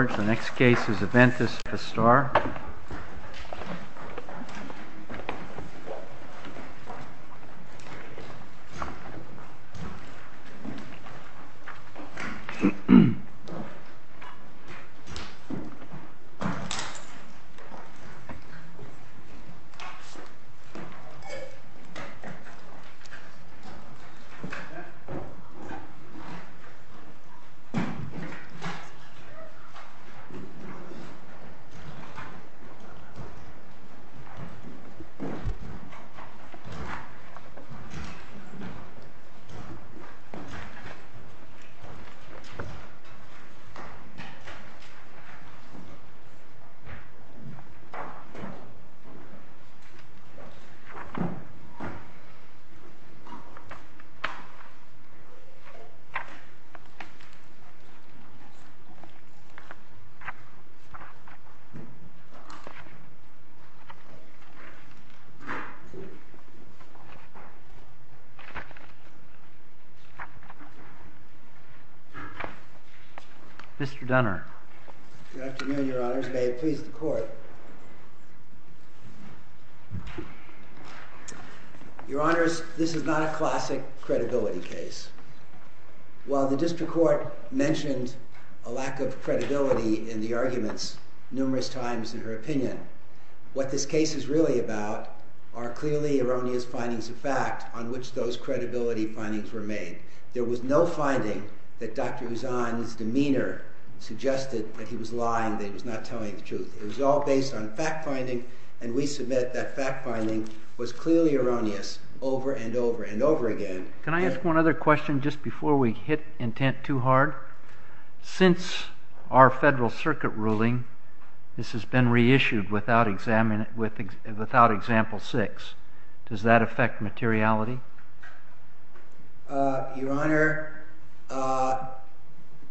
Aventis Pharma SA v. Amphastar Aventis Pharma SA v. Amphastar Aventis Pharma SA v. Amphastar It's not a classic credibility case. While the district court mentioned a lack of credibility in the arguments numerous times in her opinion, what this case is really about are clearly erroneous findings of fact on which those credibility findings were made. There was no finding that Dr. Uzan's demeanor suggested that he was lying, that he was not telling the truth. It was all based on fact-finding, and we submit that fact-finding was clearly erroneous over and over and over again. Can I ask one other question just before we hit intent too hard? Since our Federal Circuit ruling, this has been reissued without example 6. Does that affect materiality? Your Honor,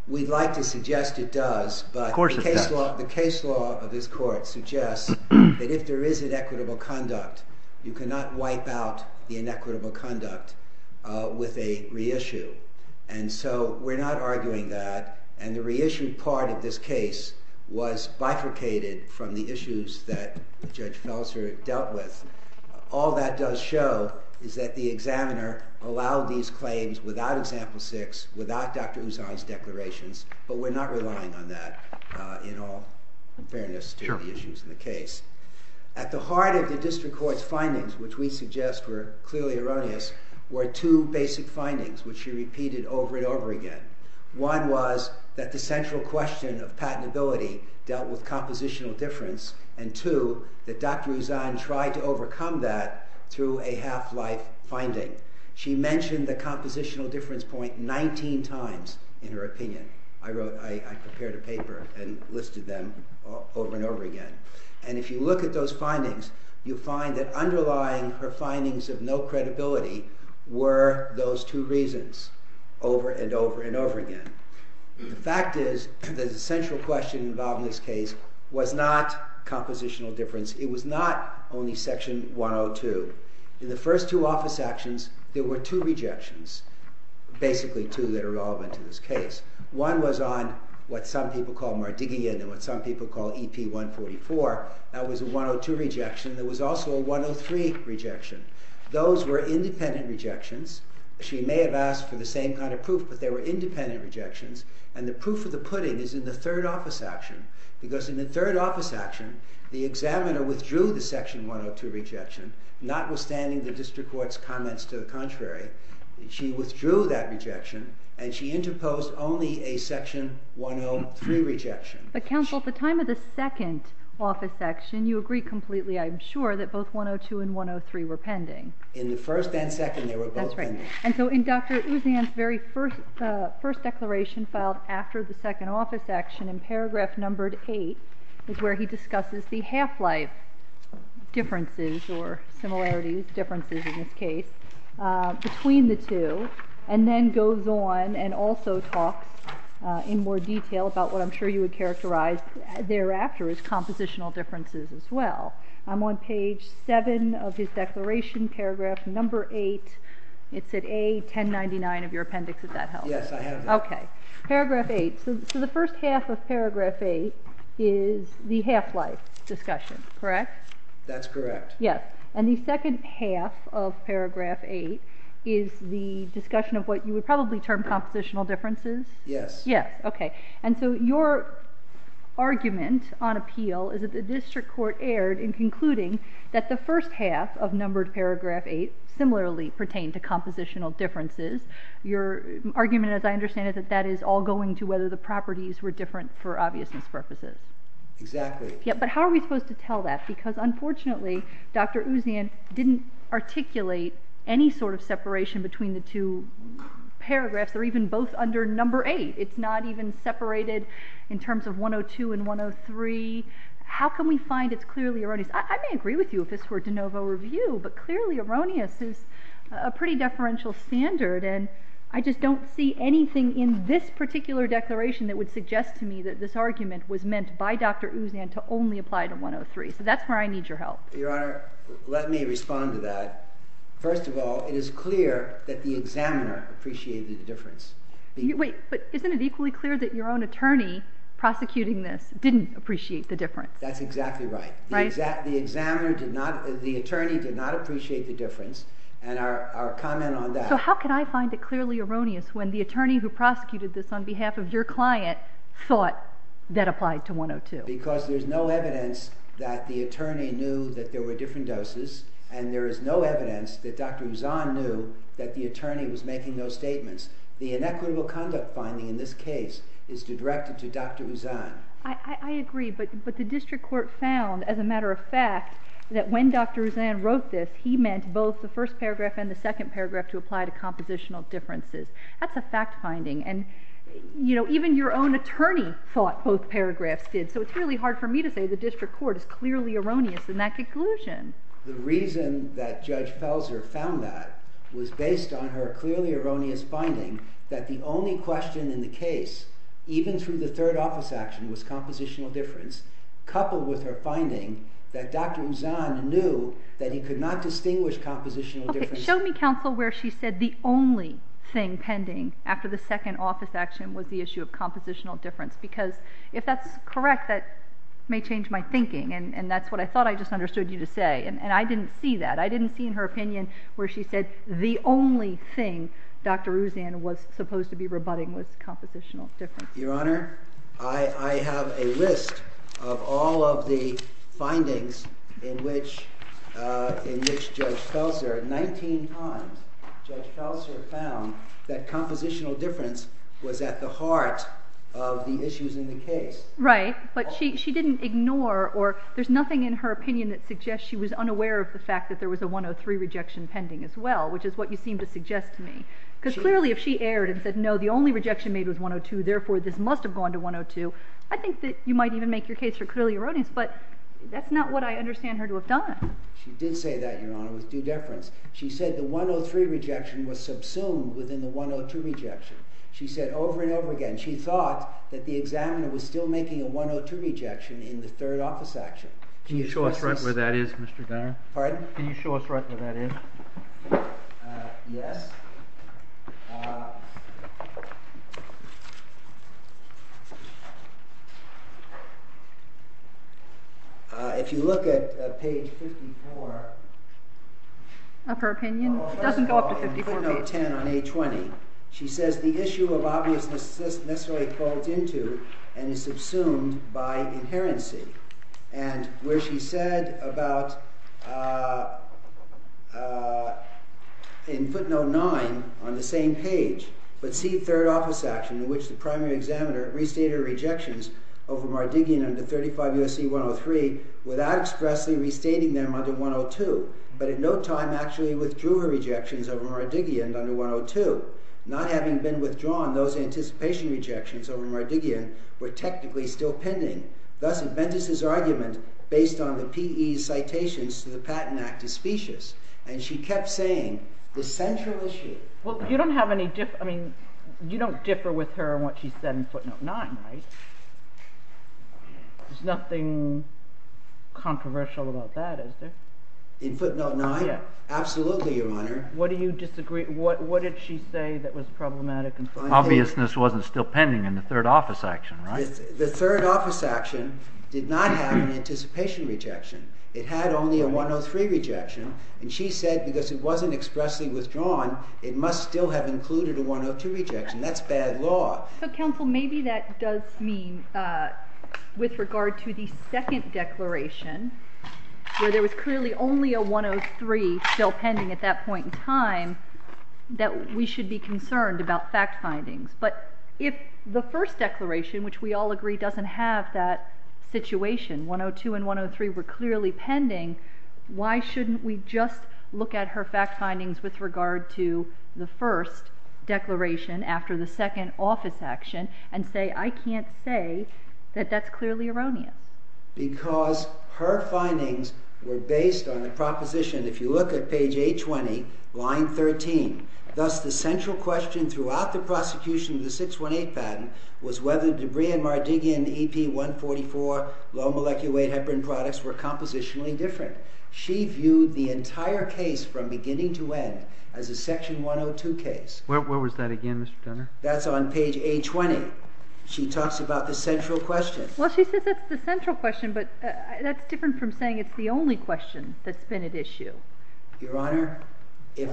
we'd like to suggest it does, but the case law of this Court suggests that if there is inequitable conduct, you cannot wipe out the inequitable conduct with a reissue. And so we're not arguing that, and the reissue part of this case was bifurcated from the issues that Judge Felser dealt with. All that does show is that the examiner allowed these claims without example 6, without Dr. Uzan's declarations, but we're not relying on that in all fairness to the issues in the case. At the heart of the District Court's findings, which we suggest were clearly erroneous, were two basic findings, which she repeated over and over again. One was that the central question of patentability dealt with compositional difference, and two, that Dr. Uzan tried to overcome that through a half-life finding. She mentioned the compositional difference point 19 times in her opinion. I prepared a paper and listed them over and over again. And if you look at those findings, you'll find that underlying her findings of no credibility were those two reasons over and over and over again. The fact is that the central question involved in this case was not compositional difference. It was not only Section 102. In the first two office actions, there were two rejections, basically two that are relevant to this case. One was on what some people call Mardigian and what some people call EP 144. That was a 102 rejection. There was also a 103 rejection. Those were independent rejections. She may have asked for the same kind of proof, but they were independent rejections. And the proof of the pudding is in the third office action, because in the third office action, the examiner withdrew the Section 102 rejection, notwithstanding the District Court's comments to the contrary. She withdrew that rejection, and she interposed only a Section 103 rejection. But, counsel, at the time of the second office action, you agree completely, I'm sure, that both 102 and 103 were pending. In the first and second, they were both pending. And so in Dr. Uzan's very first declaration filed after the second office action, in paragraph numbered 8, is where he discusses the half-life differences or similarities, differences in this case, between the two, and then goes on and also talks in more detail about what I'm sure you would characterize thereafter as compositional differences as well. I'm on page 7 of his declaration, paragraph number 8. It's at A1099 of your appendix, if that helps. Yes, I have that. Okay. Paragraph 8. So the first half of paragraph 8 is the half-life discussion, correct? That's correct. Yes. And the second half of paragraph 8 is the discussion of what you would probably term compositional differences? Yes. Yes. Okay. And so your argument on appeal is that the District Court erred in concluding that the first half of numbered paragraph 8 similarly pertained to compositional differences. Your argument, as I understand it, that that is all going to whether the properties were different for obviousness purposes. Exactly. Yeah, but how are we supposed to tell that? Because unfortunately, Dr. Ouzian didn't articulate any sort of separation between the two paragraphs. They're even both under number 8. It's not even separated in terms of 102 and 103. How can we find it's clearly erroneous? I may agree with you if this were de novo review, but clearly erroneous is a pretty deferential standard, and I just don't see anything in this particular declaration that would suggest to me that this argument was meant by Dr. Ouzian to only apply to 103. So that's where I need your help. Your Honor, let me respond to that. First of all, it is clear that the examiner appreciated the difference. Wait, but isn't it equally clear that your own attorney prosecuting this didn't appreciate the difference? That's exactly right. The examiner did not, the attorney did not appreciate the difference, and our comment on that. So how can I find it clearly erroneous when the attorney who prosecuted this on behalf of your client thought that applied to 102? Because there's no evidence that the attorney knew that there were different doses, and there is no evidence that Dr. Ouzian knew that the attorney was making those statements. The inequitable conduct finding in this case is directed to Dr. Ouzian. I agree, but the district court found, as a matter of fact, that when Dr. Ouzian wrote this, he meant both the first paragraph and the second paragraph to apply to compositional differences. That's a fact finding, and even your own attorney thought both paragraphs did. So it's really hard for me to say the district court is clearly erroneous in that conclusion. The reason that Judge Felser found that was based on her clearly erroneous finding that the only question in the case, even through the third office action, was compositional difference, coupled with her finding that Dr. Ouzian knew that he could not distinguish compositional differences. Show me, counsel, where she said the only thing pending after the second office action was the issue of compositional difference, because if that's correct, that may change my thinking, and that's what I thought I just understood you to say. And I didn't see that. I didn't see in her opinion where she said the only thing Dr. Ouzian was supposed to be rebutting was compositional differences. Your Honor, I have a list of all of the findings in which Judge Felser, 19 times, Judge Felser found that compositional difference was at the heart of the issues in the case. Right, but she didn't ignore, or there's nothing in her opinion that suggests she was unaware of the fact that there was a 103 rejection pending as well, which is what you seem to suggest to me. Because clearly if she erred and said no, the only rejection made was 102, therefore this must have gone to 102, I think that you might even make your case for clearly erroneous, but that's not what I understand her to have done. She did say that, Your Honor, with due deference. She said the 103 rejection was subsumed within the 102 rejection. She said over and over again, she thought that the examiner was still making a 102 rejection in the third office action. Can you show us right where that is, Mr. Gunner? Pardon? Can you show us right where that is? Yes. Yes. If you look at page 54... Of her opinion? It doesn't go up to 54 pages. First of all, in footnote 10 on page 20, she says, the issue of obviousness necessarily folds into and is subsumed by inherency. And where she said about in footnote 9 on the same page, but see third office action in which the primary examiner restated her rejections over Mardigian under 35 U.S.C. 103 without expressly restating them under 102, but in no time actually withdrew her rejections over Mardigian under 102. Not having been withdrawn, those anticipation rejections over Mardigian were technically still pending. Thus, Adventist's argument based on the P.E. citations to the Patent Act is specious. And she kept saying, the central issue... Well, you don't have any difference... I mean, you don't differ with her on what she said in footnote 9, right? There's nothing controversial about that, is there? In footnote 9? Yes. Absolutely, Your Honor. What do you disagree... What did she say that was problematic? Obviousness wasn't still pending in the third office action, right? The third office action did not have an anticipation rejection. It had only a 103 rejection. And she said, because it wasn't expressly withdrawn, it must still have included a 102 rejection. That's bad law. So, counsel, maybe that does mean, with regard to the second declaration, where there was clearly only a 103 still pending at that point in time, that we should be concerned about fact findings. But if the first declaration, which we all agree doesn't have that situation, 102 and 103 were clearly pending, why shouldn't we just look at her fact findings with regard to the first declaration after the second office action and say, I can't say that that's clearly erroneous? Because her findings were based on the proposition, if you look at page 820, line 13, thus the central question throughout the prosecution of the 618 patent was whether Debrea and Mardigian EP144 low-molecule weight heparin products were compositionally different. She viewed the entire case from beginning to end as a section 102 case. Where was that again, Mr. Turner? That's on page 820. She talks about the central question. Well, she says that's the central question, but that's different from saying it's the only question that's been at issue. Your Honor, if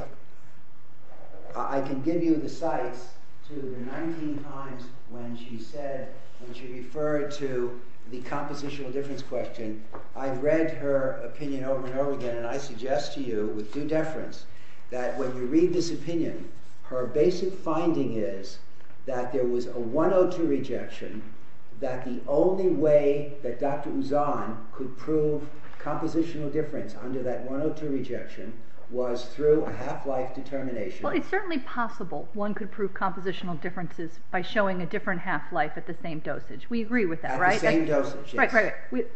I can give you the sites to the 19 times when she said, when she referred to the compositional difference question, I've read her opinion over and over again, and I suggest to you with due deference that when you read this opinion, her basic finding is that there was a 102 rejection, that the only way that Dr. Uzan could prove compositional difference under that 102 rejection was through a half-life determination. Well, it's certainly possible one could prove compositional differences by showing a different half-life at the same dosage. We agree with that, right? At the same dosage, yes. Right, right.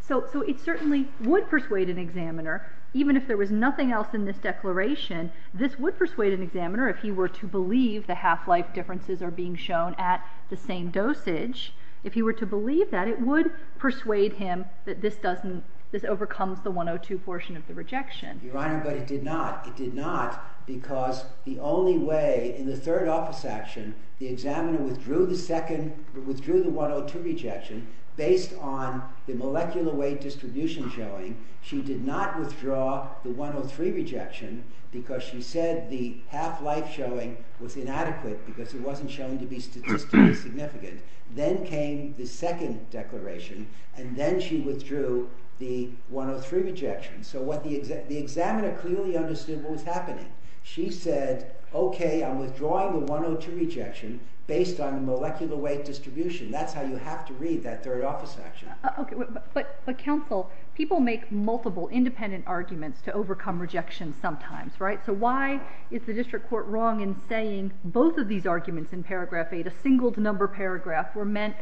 So it certainly would persuade an examiner, even if there was nothing else in this declaration, this would persuade an examiner if he were to believe the half-life differences are being shown at the same dosage. If he were to believe that, it would persuade him that this overcomes the 102 portion of the rejection. Your Honor, but it did not. It did not because the only way, in the third office action, the examiner withdrew the 102 rejection based on the molecular weight distribution showing. She did not withdraw the 103 rejection because she said the half-life showing was inadequate because it wasn't shown to be statistically significant. Then came the second declaration, and then she withdrew the 103 rejection. So the examiner clearly understood what was happening. She said, okay, I'm withdrawing the 102 rejection based on the molecular weight distribution. That's how you have to read that third office action. Okay, but counsel, people make multiple independent arguments to overcome rejection sometimes, right? So why is the district court wrong in saying both of these arguments in paragraph 8, a single number paragraph, were meant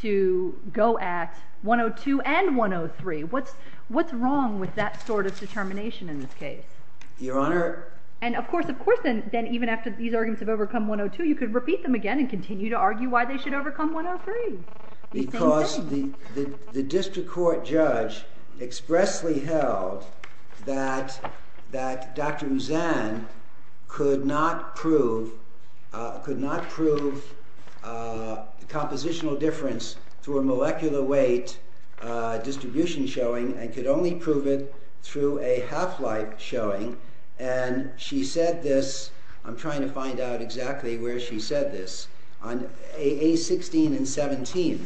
to go at 102 and 103? What's wrong with that sort of determination in this case? Your Honor... And of course, of course, then even after these arguments have overcome 102, you could repeat them again and continue to argue why they should overcome 103. Because the district court judge expressly held that Dr. Mouzan could not prove compositional difference through a molecular weight distribution showing and could only prove it through a half-life showing. And she said this, I'm trying to find out exactly where she said this, on A16 and 17.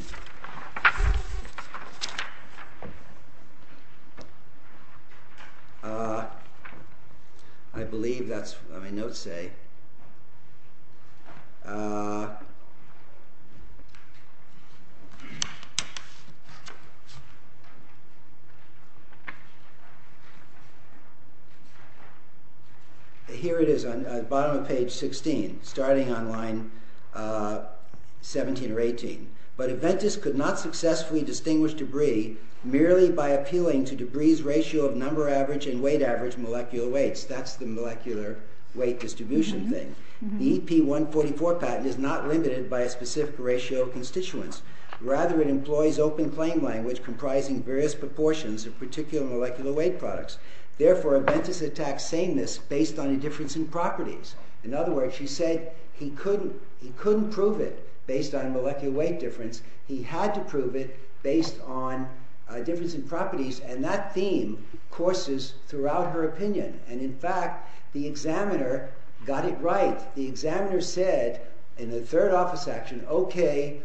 I believe that's what my notes say. Here it is, bottom of page 16, starting on line 17 or 18. But Aventis could not successfully distinguish debris merely by appealing to debris's ratio of number average and weight average molecular weights. That's the molecular weight distribution thing. The EP144 patent is not limited by a specific ratio of constituents. Rather, it employs open claim language comprising various proportions of particular molecular weight products. Therefore, Aventis attacks sameness based on a difference in properties. In other words, she said he couldn't prove it based on molecular weight difference. He had to prove it based on difference in properties. And that theme courses throughout her opinion. And in fact, the examiner got it right. The examiner said in the third office action, okay,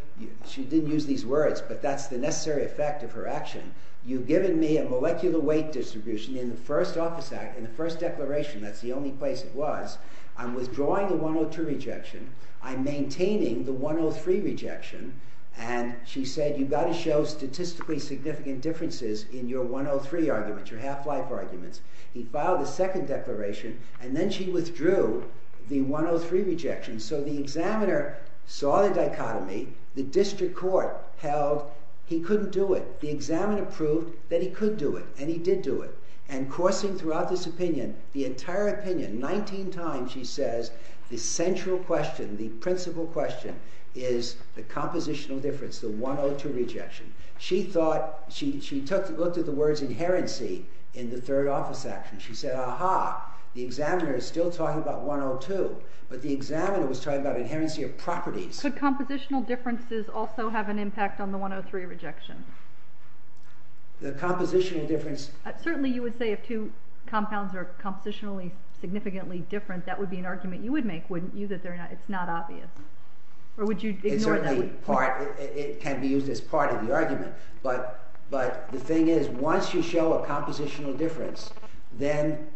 she didn't use these words, but that's the necessary effect of her action. You've given me a molecular weight distribution in the first office act, in the first declaration. That's the only place it was. I'm withdrawing the 102 rejection. I'm maintaining the 103 rejection. And she said you've got to show statistically significant differences in your 103 arguments, your half-life arguments. He filed a second declaration, and then she withdrew the 103 rejection. So the examiner saw the dichotomy. The district court held he couldn't do it. The examiner proved that he could do it, and he did do it. And coursing throughout this opinion, the entire opinion, 19 times she says the central question, the principal question is the compositional difference, the 102 rejection. She looked at the words inherency in the third office action. She said, aha, the examiner is still talking about 102, but the examiner was talking about inherency of properties. Could compositional differences also have an impact on the 103 rejection? The compositional difference... Certainly you would say if two compounds are compositionally significantly different, that would be an argument you would make, wouldn't you, that it's not obvious? Or would you ignore that? It can be used as part of the argument. But the thing is, once you show a compositional difference, then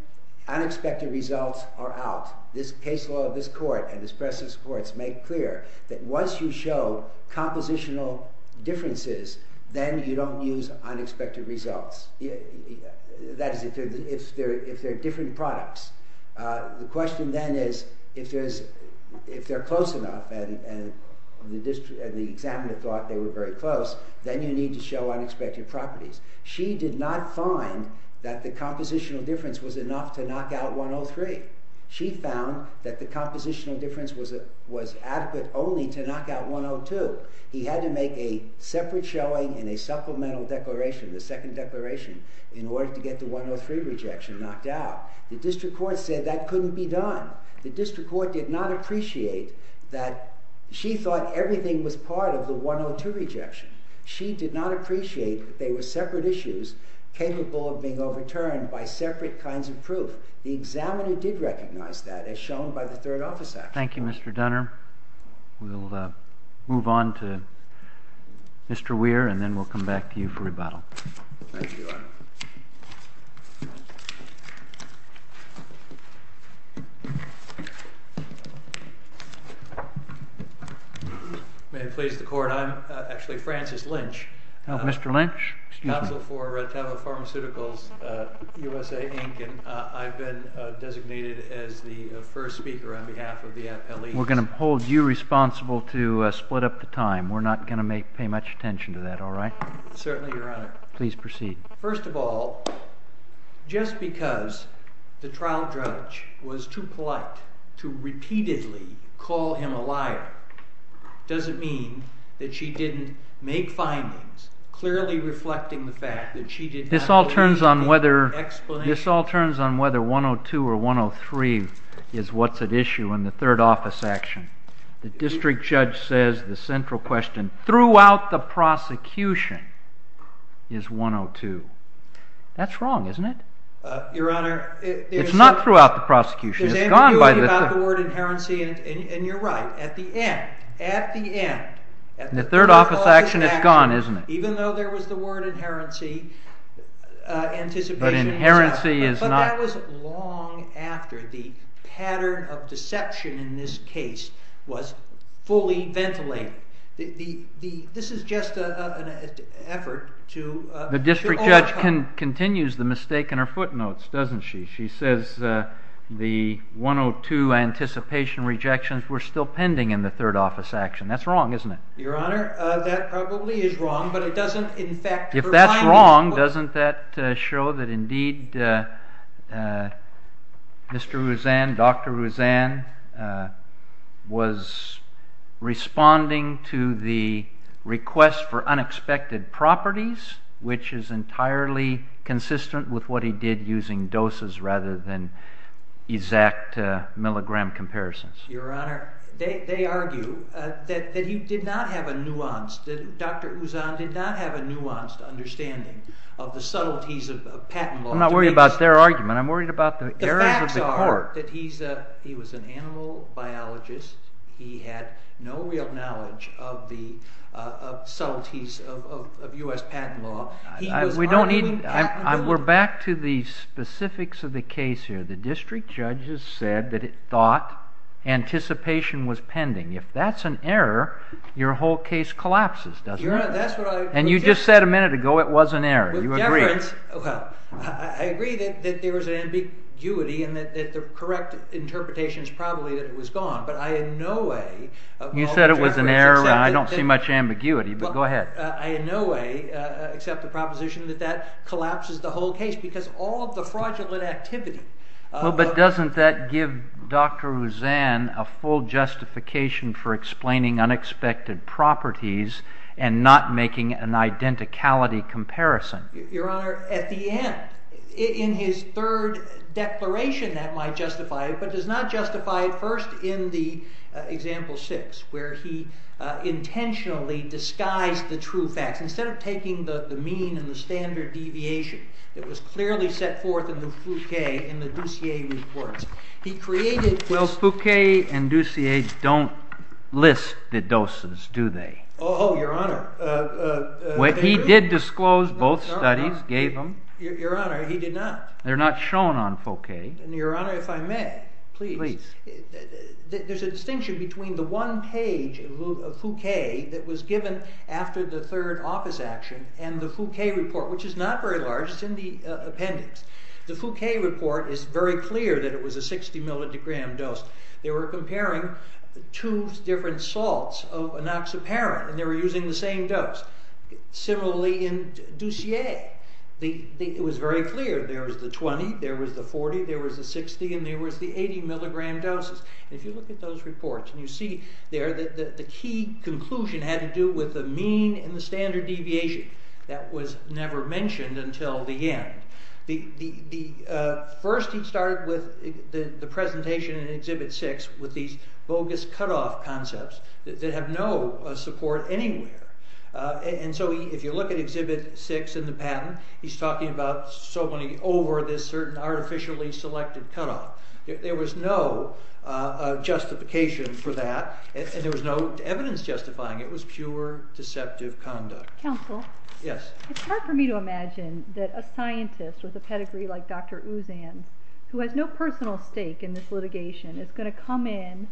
unexpected results are out. This case law of this court and this precedent of this court has made clear that once you show compositional differences, then you don't use unexpected results. That is, if they're different products. The question then is, if they're close enough, and the examiner thought they were very close, then you need to show unexpected properties. She did not find that the compositional difference was enough to knock out 103. She found that the compositional difference was adequate only to knock out 102. He had to make a separate showing in a supplemental declaration, the second declaration, in order to get the 103 rejection knocked out. The district court said that couldn't be done. The district court did not appreciate that... She thought everything was part of the 102 rejection. She did not appreciate that they were separate issues capable of being overturned by separate kinds of proof. The examiner did recognize that, as shown by the Third Office Act. Thank you, Mr. Dunner. We'll move on to Mr. Weir, and then we'll come back to you for rebuttal. Thank you, Your Honor. May it please the Court, I'm actually Francis Lynch. Mr. Lynch, excuse me. Counsel for Retevo Pharmaceuticals, USA, Inc., and I've been designated as the first speaker on behalf of the appellees. We're going to hold you responsible to split up the time. We're not going to pay much attention to that, all right? Certainly, Your Honor. Please proceed. First of all, just because the trial judge was too polite to repeatedly call him a liar doesn't mean that she didn't make findings clearly reflecting the fact that she did not... This all turns on whether 102 or 103 is what's at issue in the Third Office action. The district judge says the central question throughout the prosecution is 102. That's wrong, isn't it? Your Honor... It's not throughout the prosecution. It's gone by the... ...about the word inherency, and you're right. At the end, at the end... In the Third Office action, it's gone, isn't it? Even though there was the word inherency, anticipation... But inherency is not... But that was long after the pattern of deception in this case was fully ventilated. This is just an effort to... The district judge continues the mistake in her footnotes, doesn't she? She says the 102 anticipation rejections were still pending in the Third Office action. That's wrong, isn't it? Your Honor, that probably is wrong, but it doesn't, in fact, provide... If that's wrong, doesn't that show that, indeed, Mr. Ouzan, Dr. Ouzan, was responding to the request for unexpected properties, which is entirely consistent with what he did using doses rather than exact milligram comparisons? Your Honor, they argue that he did not have a nuance. Dr. Ouzan did not have a nuanced understanding of the subtleties of patent law. I'm not worried about their argument. I'm worried about the errors of the court. The facts are that he was an animal biologist. He had no real knowledge of the subtleties of U.S. patent law. We don't need... We're back to the specifics of the case here. The district judge has said that it thought anticipation was pending. If that's an error, your whole case collapses, doesn't it? Your Honor, that's what I... And you just said a minute ago it was an error. You agree? Well, I agree that there was ambiguity and that the correct interpretation is probably that it was gone, but I in no way... You said it was an error. I don't see much ambiguity, but go ahead. I in no way accept the proposition that that collapses the whole case because all of the fraudulent activity... Doesn't that give Dr. Rouzan a full justification for explaining unexpected properties and not making an identicality comparison? Your Honor, at the end, in his third declaration, that might justify it, but does not justify it first in the example 6 where he intentionally disguised the true facts. Instead of taking the mean and the standard deviation that was clearly set forth in the Fouquet and the Dussier reports, he created... Well, Fouquet and Dussier don't list the doses, do they? Oh, Your Honor. He did disclose both studies, gave them. Your Honor, he did not. They're not shown on Fouquet. Your Honor, if I may, please. Please. There's a distinction between the one page of Fouquet that was given after the third office action and the Fouquet report, which is not very large. It's in the appendix. The Fouquet report is very clear that it was a 60 mg dose. They were comparing two different salts of enoxaparin, and they were using the same dose. Similarly in Dussier. It was very clear. There was the 20, there was the 40, there was the 60, and there was the 80 mg doses. If you look at those reports and you see there the key conclusion had to do with the mean and the standard deviation. That was never mentioned until the end. First he started with the presentation in Exhibit 6 with these bogus cut-off concepts that have no support anywhere. And so if you look at Exhibit 6 in the patent, he's talking about somebody over this certain artificially selected cut-off. There was no justification for that, and there was no evidence justifying it. It was pure deceptive conduct. Counsel? Yes. It's hard for me to imagine that a scientist with a pedigree like Dr. Uzan's, who has no personal stake in this litigation, is going to come in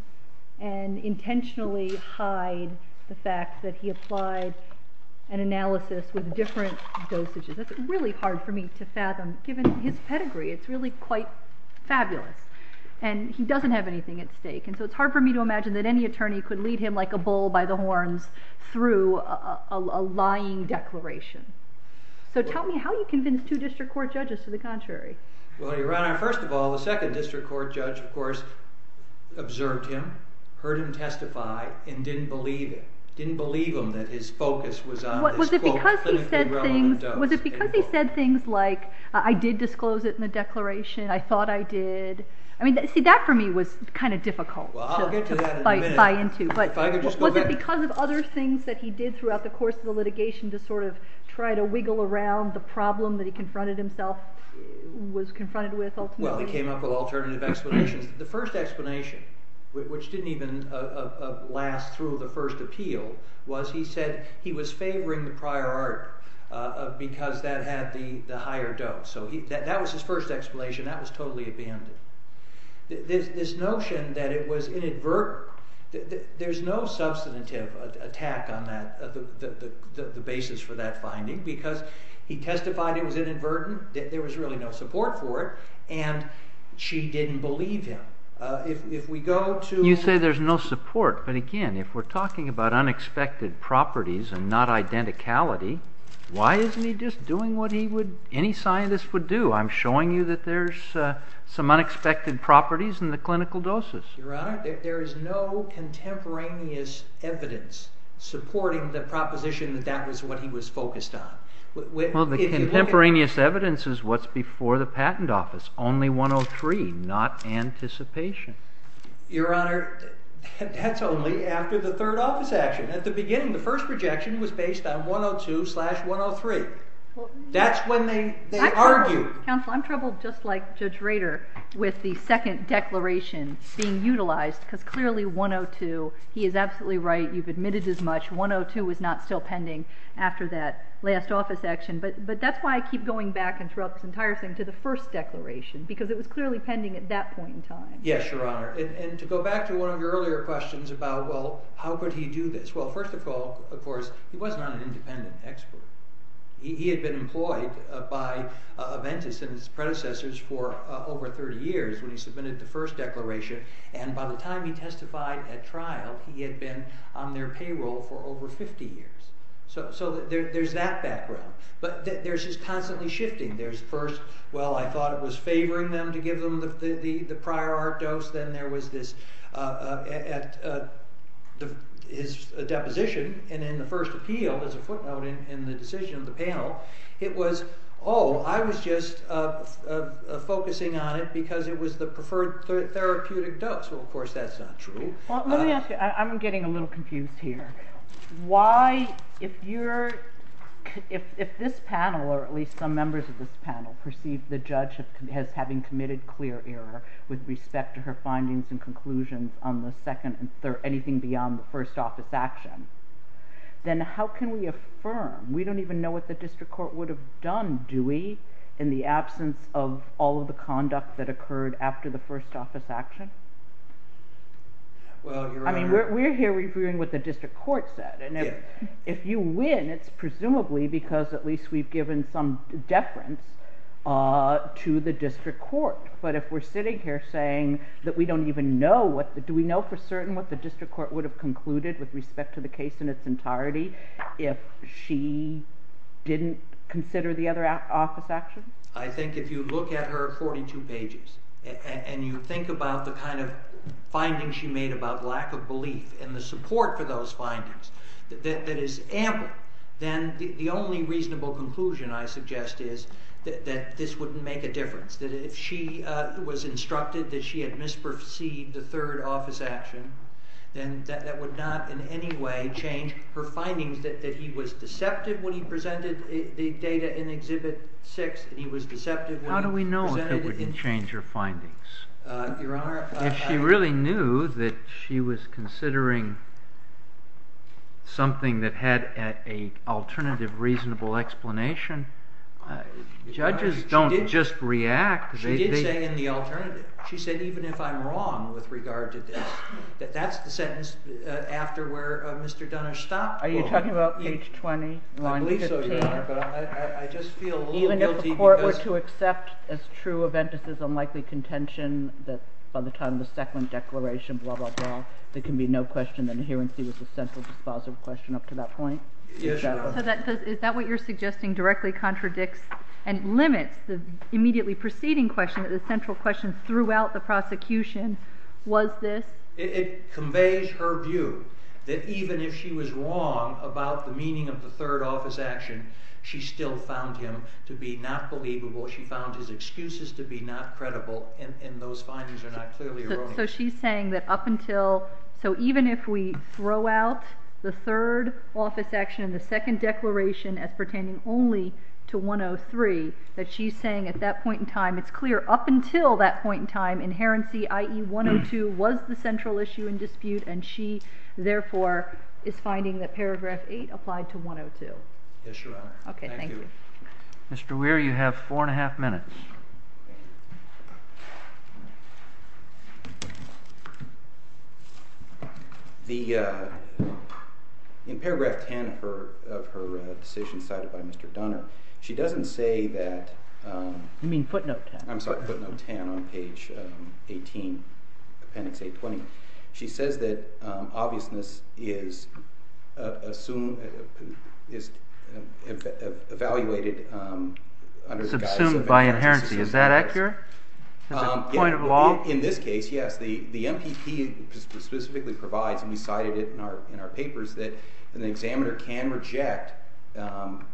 and intentionally hide the fact that he applied an analysis with different dosages. That's really hard for me to fathom, given his pedigree. It's really quite fabulous. And he doesn't have anything at stake. And so it's hard for me to imagine that any attorney could lead him like a bull by the horns through a lying declaration. So tell me, how do you convince two district court judges to the contrary? Well, Your Honor, first of all, the second district court judge, of course, observed him, heard him testify, and didn't believe him that his focus was on this quote, clinically relevant dose. Was it because he said things like, I did disclose it in the declaration, I thought I did? I mean, see, that for me was kind of difficult. Well, I'll get to that in a minute. To buy into. But was it because of other things that he did throughout the course of the litigation to sort of try to wiggle around the problem that he confronted himself, was confronted with ultimately? Well, he came up with alternative explanations. The first explanation, which didn't even last through the first appeal, was he said he was favoring the prior art because that had the higher dose. So that was his first explanation. That was totally abandoned. This notion that it was inadvertent, there's no substantive attack on the basis for that finding because he testified it was inadvertent, that there was really no support for it, and she didn't believe him. If we go to- You say there's no support, but again, if we're talking about unexpected properties and not identicality, why isn't he just doing what any scientist would do? I'm showing you that there's some unexpected properties in the clinical doses. Your Honor, there is no contemporaneous evidence supporting the proposition that that was what he was focused on. Well, the contemporaneous evidence is what's before the patent office. Only 103, not anticipation. Your Honor, that's only after the third office action. At the beginning, the first projection was based on 102 slash 103. That's when they argue. Counsel, I'm troubled just like Judge Rader with the second declaration being utilized because clearly 102, he is absolutely right. You've admitted as much. 102 was not still pending after that last office action. But that's why I keep going back and throughout this entire thing to the first declaration because it was clearly pending at that point in time. Yes, Your Honor. And to go back to one of your earlier questions about, well, how could he do this? Well, first of all, of course, he was not an independent expert. He had been employed by Aventis and his predecessors for over 30 years when he submitted the first declaration. And by the time he testified at trial, he had been on their payroll for over 50 years. So there's that background. But there's this constantly shifting. There's first, well, I thought it was favoring them to give them the prior art dose. Then there was this at his deposition and in the first appeal as a footnote in the decision of the panel. It was, oh, I was just focusing on it because it was the preferred therapeutic dose. Well, of course, that's not true. Well, let me ask you. I'm getting a little confused here. Why, if this panel, or at least some members of this panel, perceive the judge as having committed clear error with respect to her findings and conclusions on the second or anything beyond the first office action, then how can we affirm? We don't even know what the district court would have done, do we, in the absence of all of the conduct that occurred after the first office action? I mean, we're here reviewing what the district court said. And if you win, it's presumably because at least we've given some deference to the district court. But if we're sitting here saying that we don't even know, do we know for certain what the district court would have concluded with respect to the case in its entirety if she didn't consider the other office action? I think if you look at her 42 pages and you think about the kind of findings she made about lack of belief and the support for those findings that is ample, then the only reasonable conclusion, I suggest, is that this wouldn't make a difference, that if she was instructed that she had misperceived the third office action, then that would not in any way change her findings that he was deceptive when he presented the data in Exhibit 6 and he was deceptive when he presented it in... How do we know if it wouldn't change her findings? If she really knew that she was considering something that had an alternative reasonable explanation, judges don't just react. She did say in the alternative. She said, even if I'm wrong with regard to this, that that's the sentence after where Mr. Dunnish stopped. Are you talking about page 20, line 15? I believe so, Your Honor, but I just feel a little guilty... Even if the court were to accept as true Eventus's unlikely contention that by the time of the second declaration, blah, blah, blah, there can be no question that adherency was a central dispositive question up to that point? Yes, Your Honor. Is that what you're suggesting directly contradicts and limits the immediately preceding question that the central question throughout the prosecution was this? It conveys her view that even if she was wrong about the meaning of the third office action, she still found him to be not believable. She found his excuses to be not credible and those findings are not clearly erroneous. So she's saying that up until... So even if we throw out the third office action and the second declaration as pertaining only to 103, that she's saying at that point in time it's clear up until that point in time inherency, i.e. 102, was the central issue in dispute and she, therefore, is finding that paragraph 8 applied to 102. Yes, Your Honor. Okay, thank you. Mr. Weir, you have four and a half minutes. In paragraph 10 of her decision cited by Mr. Donner, she doesn't say that... You mean footnote 10. I'm sorry, footnote 10 on page 18, appendix A20. She says that obviousness is evaluated under the guise... Subsumed by inherency. In this case, yes, the MPP specifically provides, and we cited it in our papers, that an examiner can reject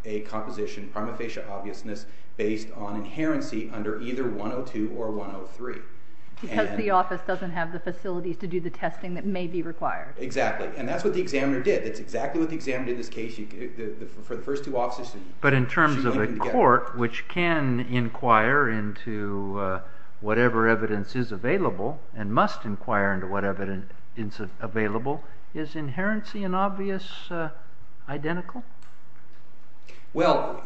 a composition, prima facie obviousness, based on inherency under either 102 or 103. Because the office doesn't have the facilities to do the testing that may be required. Exactly, and that's what the examiner did. That's exactly what the examiner did in this case. For the first two offices... But in terms of a court, which can inquire into whatever evidence is available, and must inquire into whatever evidence is available, is inherency and obvious identical? Well,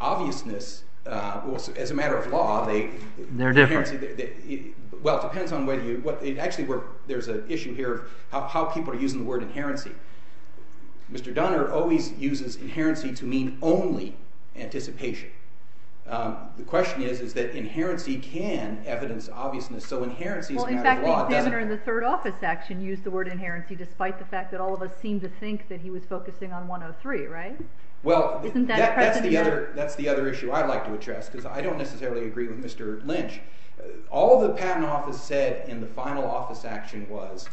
obviousness, as a matter of law... They're different. Well, it depends on whether you... Actually, there's an issue here of how people are using the word inherency. Mr. Donner always uses inherency to mean only anticipation. The question is that inherency can evidence obviousness, so inherency is a matter of law. In fact, the examiner in the third office action used the word inherency, despite the fact that all of us seem to think that he was focusing on 103, right? Well, that's the other issue I'd like to address, because I don't necessarily agree with Mr. Lynch. All the patent office said in the final office action was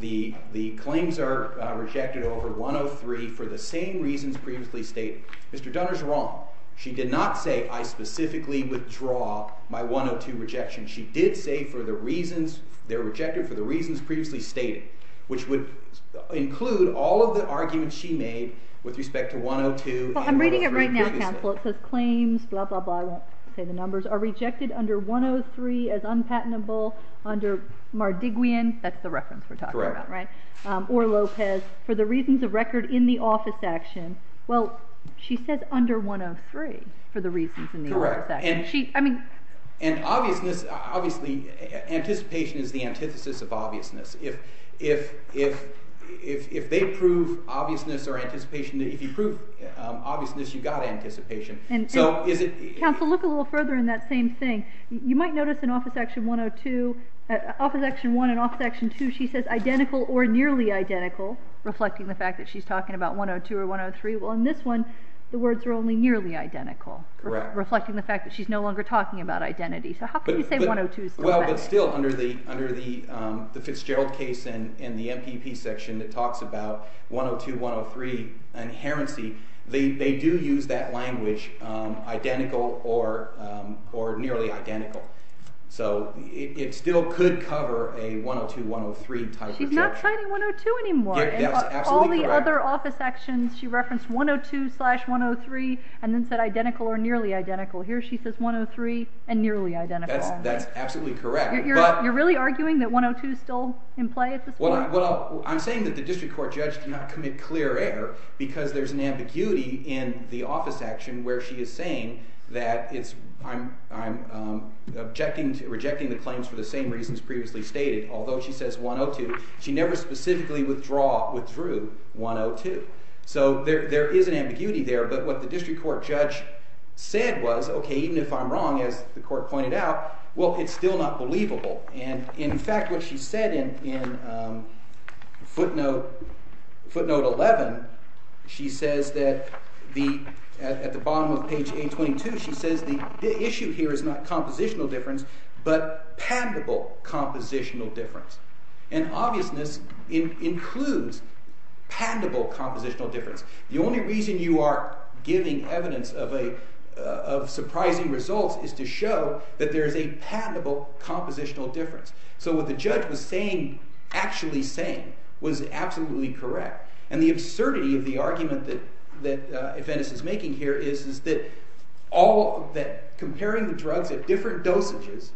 the claims are rejected over 103 for the same reasons previously stated. Mr. Donner's wrong. She did not say, I specifically withdraw my 102 rejection. She did say they're rejected for the reasons previously stated, which would include all of the arguments she made with respect to 102... I'm reading it right now, counsel. It says claims, blah, blah, blah, I won't say the numbers, are rejected under 103 as unpatentable under Mardiguian, that's the reference we're talking about, right? Correct. Or Lopez, for the reasons of record in the office action. Well, she says under 103 for the reasons in the office action. Correct. And obviousness, obviously, anticipation is the antithesis of obviousness. If they prove obviousness or anticipation, if you prove obviousness, you've got anticipation. Counsel, look a little further in that same thing. You might notice in office action 102, office action 1 and office action 2, she says identical or nearly identical, reflecting the fact that she's talking about 102 or 103. Well, in this one, the words are only nearly identical, reflecting the fact that she's no longer talking about identity. So how can you say 102 is correct? Well, but still, under the Fitzgerald case and the MPP section that talks about 102, 103, they do use that language, identical or nearly identical. So it still could cover a 102, 103 type of judge. She's not citing 102 anymore. That's absolutely correct. In all the other office actions, she referenced 102-103 and then said identical or nearly identical. Here she says 103 and nearly identical. That's absolutely correct. You're really arguing that 102 is still in play at this point? Well, I'm saying that the district court judge cannot commit clear error because there's an ambiguity in the office action where she is saying that I'm rejecting the claims for the same reasons previously stated. Although she says 102, she never specifically withdrew 102. So there is an ambiguity there, but what the district court judge said was, okay, even if I'm wrong, as the court pointed out, well, it's still not believable. And in fact, what she said in footnote 11, she says that at the bottom of page 822, she says the issue here is not compositional difference but patentable compositional difference. And obviousness includes patentable compositional difference. The only reason you are giving evidence of surprising results is to show that there is a patentable compositional difference. So what the judge was saying, actually saying, was absolutely correct. And the absurdity of the argument that Eventus is making here is that comparing the drugs at different dosages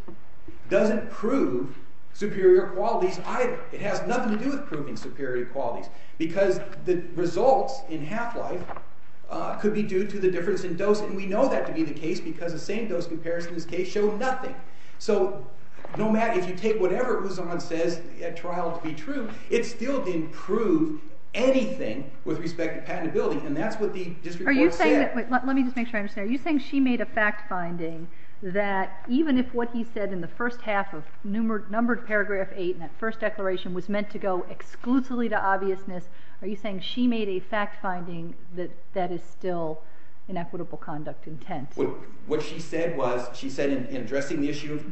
doesn't prove superior qualities either. It has nothing to do with proving superior qualities because the results in half-life could be due to the difference in dose, and we know that to be the case because the same-dose comparison in this case showed nothing. So no matter, if you take whatever Rouson says at trial to be true, it still didn't prove anything with respect to patentability, and that's what the district court said. Are you saying, let me just make sure I understand, are you saying she made a fact-finding that even if what he said in the first half of numbered paragraph 8 in that first declaration was meant to go exclusively to obviousness, are you saying she made a fact-finding that that is still inequitable conduct intent? What she said was, she said in addressing the issue,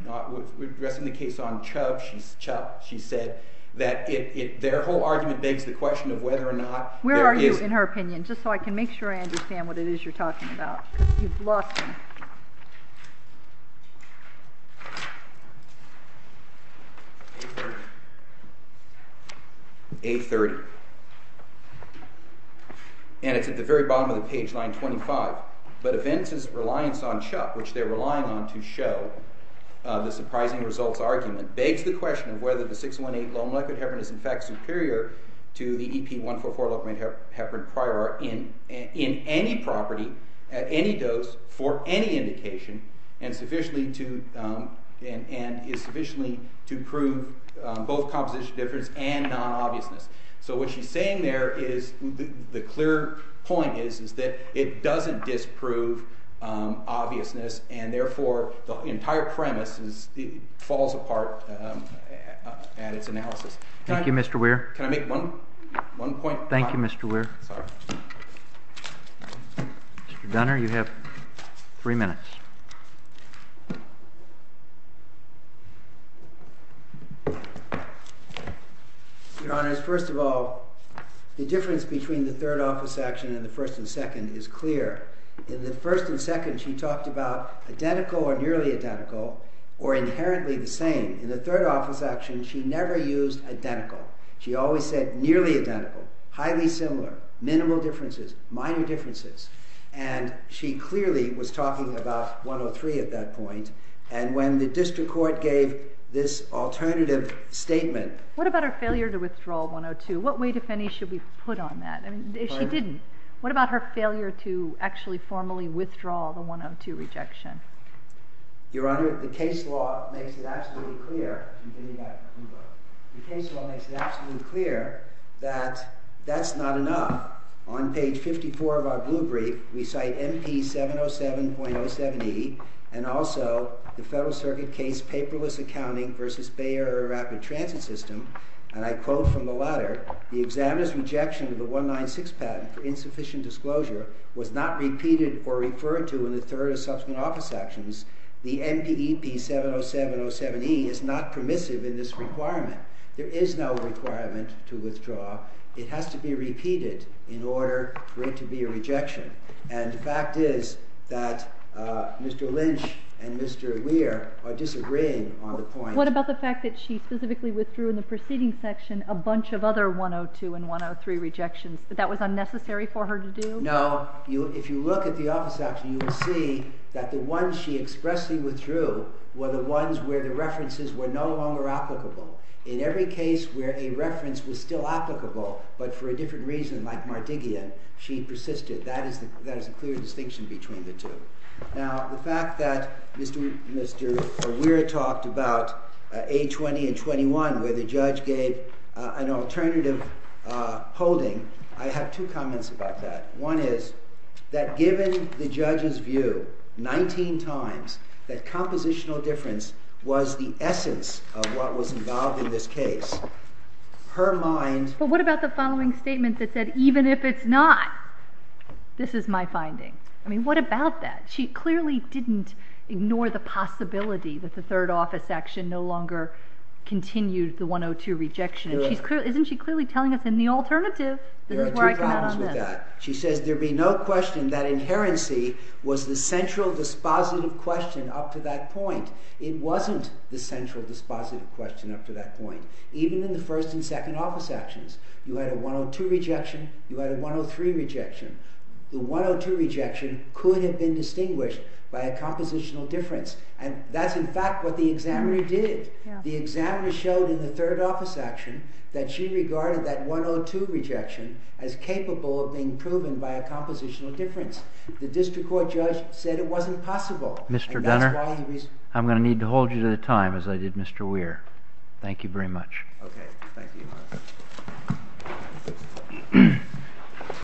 addressing the case on Chubb, she said that their whole argument begs the question of whether or not there is... Where are you in her opinion? Just so I can make sure I understand what it is you're talking about. Because you've lost me. A30. And it's at the very bottom of the page, line 25. But events' reliance on Chubb, which they're relying on to show the surprising results argument, begs the question of whether the 618 low-molecule heparin is in fact superior to the EP144 low-molecule heparin prior in any property, at any dose, for any indication, and is sufficiently to prove both composition difference and non-obviousness. So what she's saying there is, the clear point is, is that it doesn't disprove obviousness, and therefore the entire premise falls apart at its analysis. Thank you, Mr. Weir. Can I make one point? Thank you, Mr. Weir. Mr. Gunner, you have three minutes. Your Honor, first of all, the difference between the third office action and the first and second is clear. In the first and second, she talked about identical or nearly identical, or inherently the same. In the third office action, she never used identical. She always said nearly identical, highly similar, minimal differences, minor differences. And she clearly was talking about 103 at that point. And when the district court gave this alternative statement... What about her failure to withdraw 102? What weight, if any, should we put on that? She didn't. What about her failure to actually formally withdraw the 102 rejection? Your Honor, the case law makes it absolutely clear that that's not enough. On page 54 of our blue brief, we cite MP707.07e and also the Federal Circuit case Paperless Accounting v. Bay Area Rapid Transit System, and I quote from the latter, the examiner's rejection of the 196 patent for insufficient disclosure was not repeated or referred to in the third or subsequent office actions. The MPEP707.07e is not permissive in this requirement. There is no requirement to withdraw. It has to be repeated in order for it to be a rejection. And the fact is that Mr. Lynch and Mr. Weir are disagreeing on the point. What about the fact that she specifically withdrew in the preceding section a bunch of other 102 and 103 rejections, that that was unnecessary for her to do? No. If you look at the office action, you will see that the ones she expressly withdrew were the ones where the references were no longer applicable. In every case where a reference was still applicable, but for a different reason, like Mardigian, she persisted. That is a clear distinction between the two. Now, the fact that Mr. Weir talked about A20 and 21, where the judge gave an alternative holding, I have two comments about that. One is that given the judge's view 19 times that compositional difference was the essence of what was involved in this case, her mind... But what about the following statement that said, even if it's not, this is my finding? I mean, what about that? She clearly didn't ignore the possibility that the third office action no longer continued the 102 rejection. Isn't she clearly telling us in the alternative, this is where I come out on this? There are two problems with that. She says there be no question that inherency was the central dispositive question up to that point. It wasn't the central dispositive question up to that point. Even in the first and second office actions, you had a 102 rejection, you had a 103 rejection. The 102 rejection could have been distinguished by a compositional difference. And that's in fact what the examiner did. The examiner showed in the third office action that she regarded that 102 rejection as capable of being proven by a compositional difference. The district court judge said it wasn't possible. Mr. Dunner, I'm going to need to hold you to the time, as I did Mr. Weir. Thank you very much. Okay. Thank you.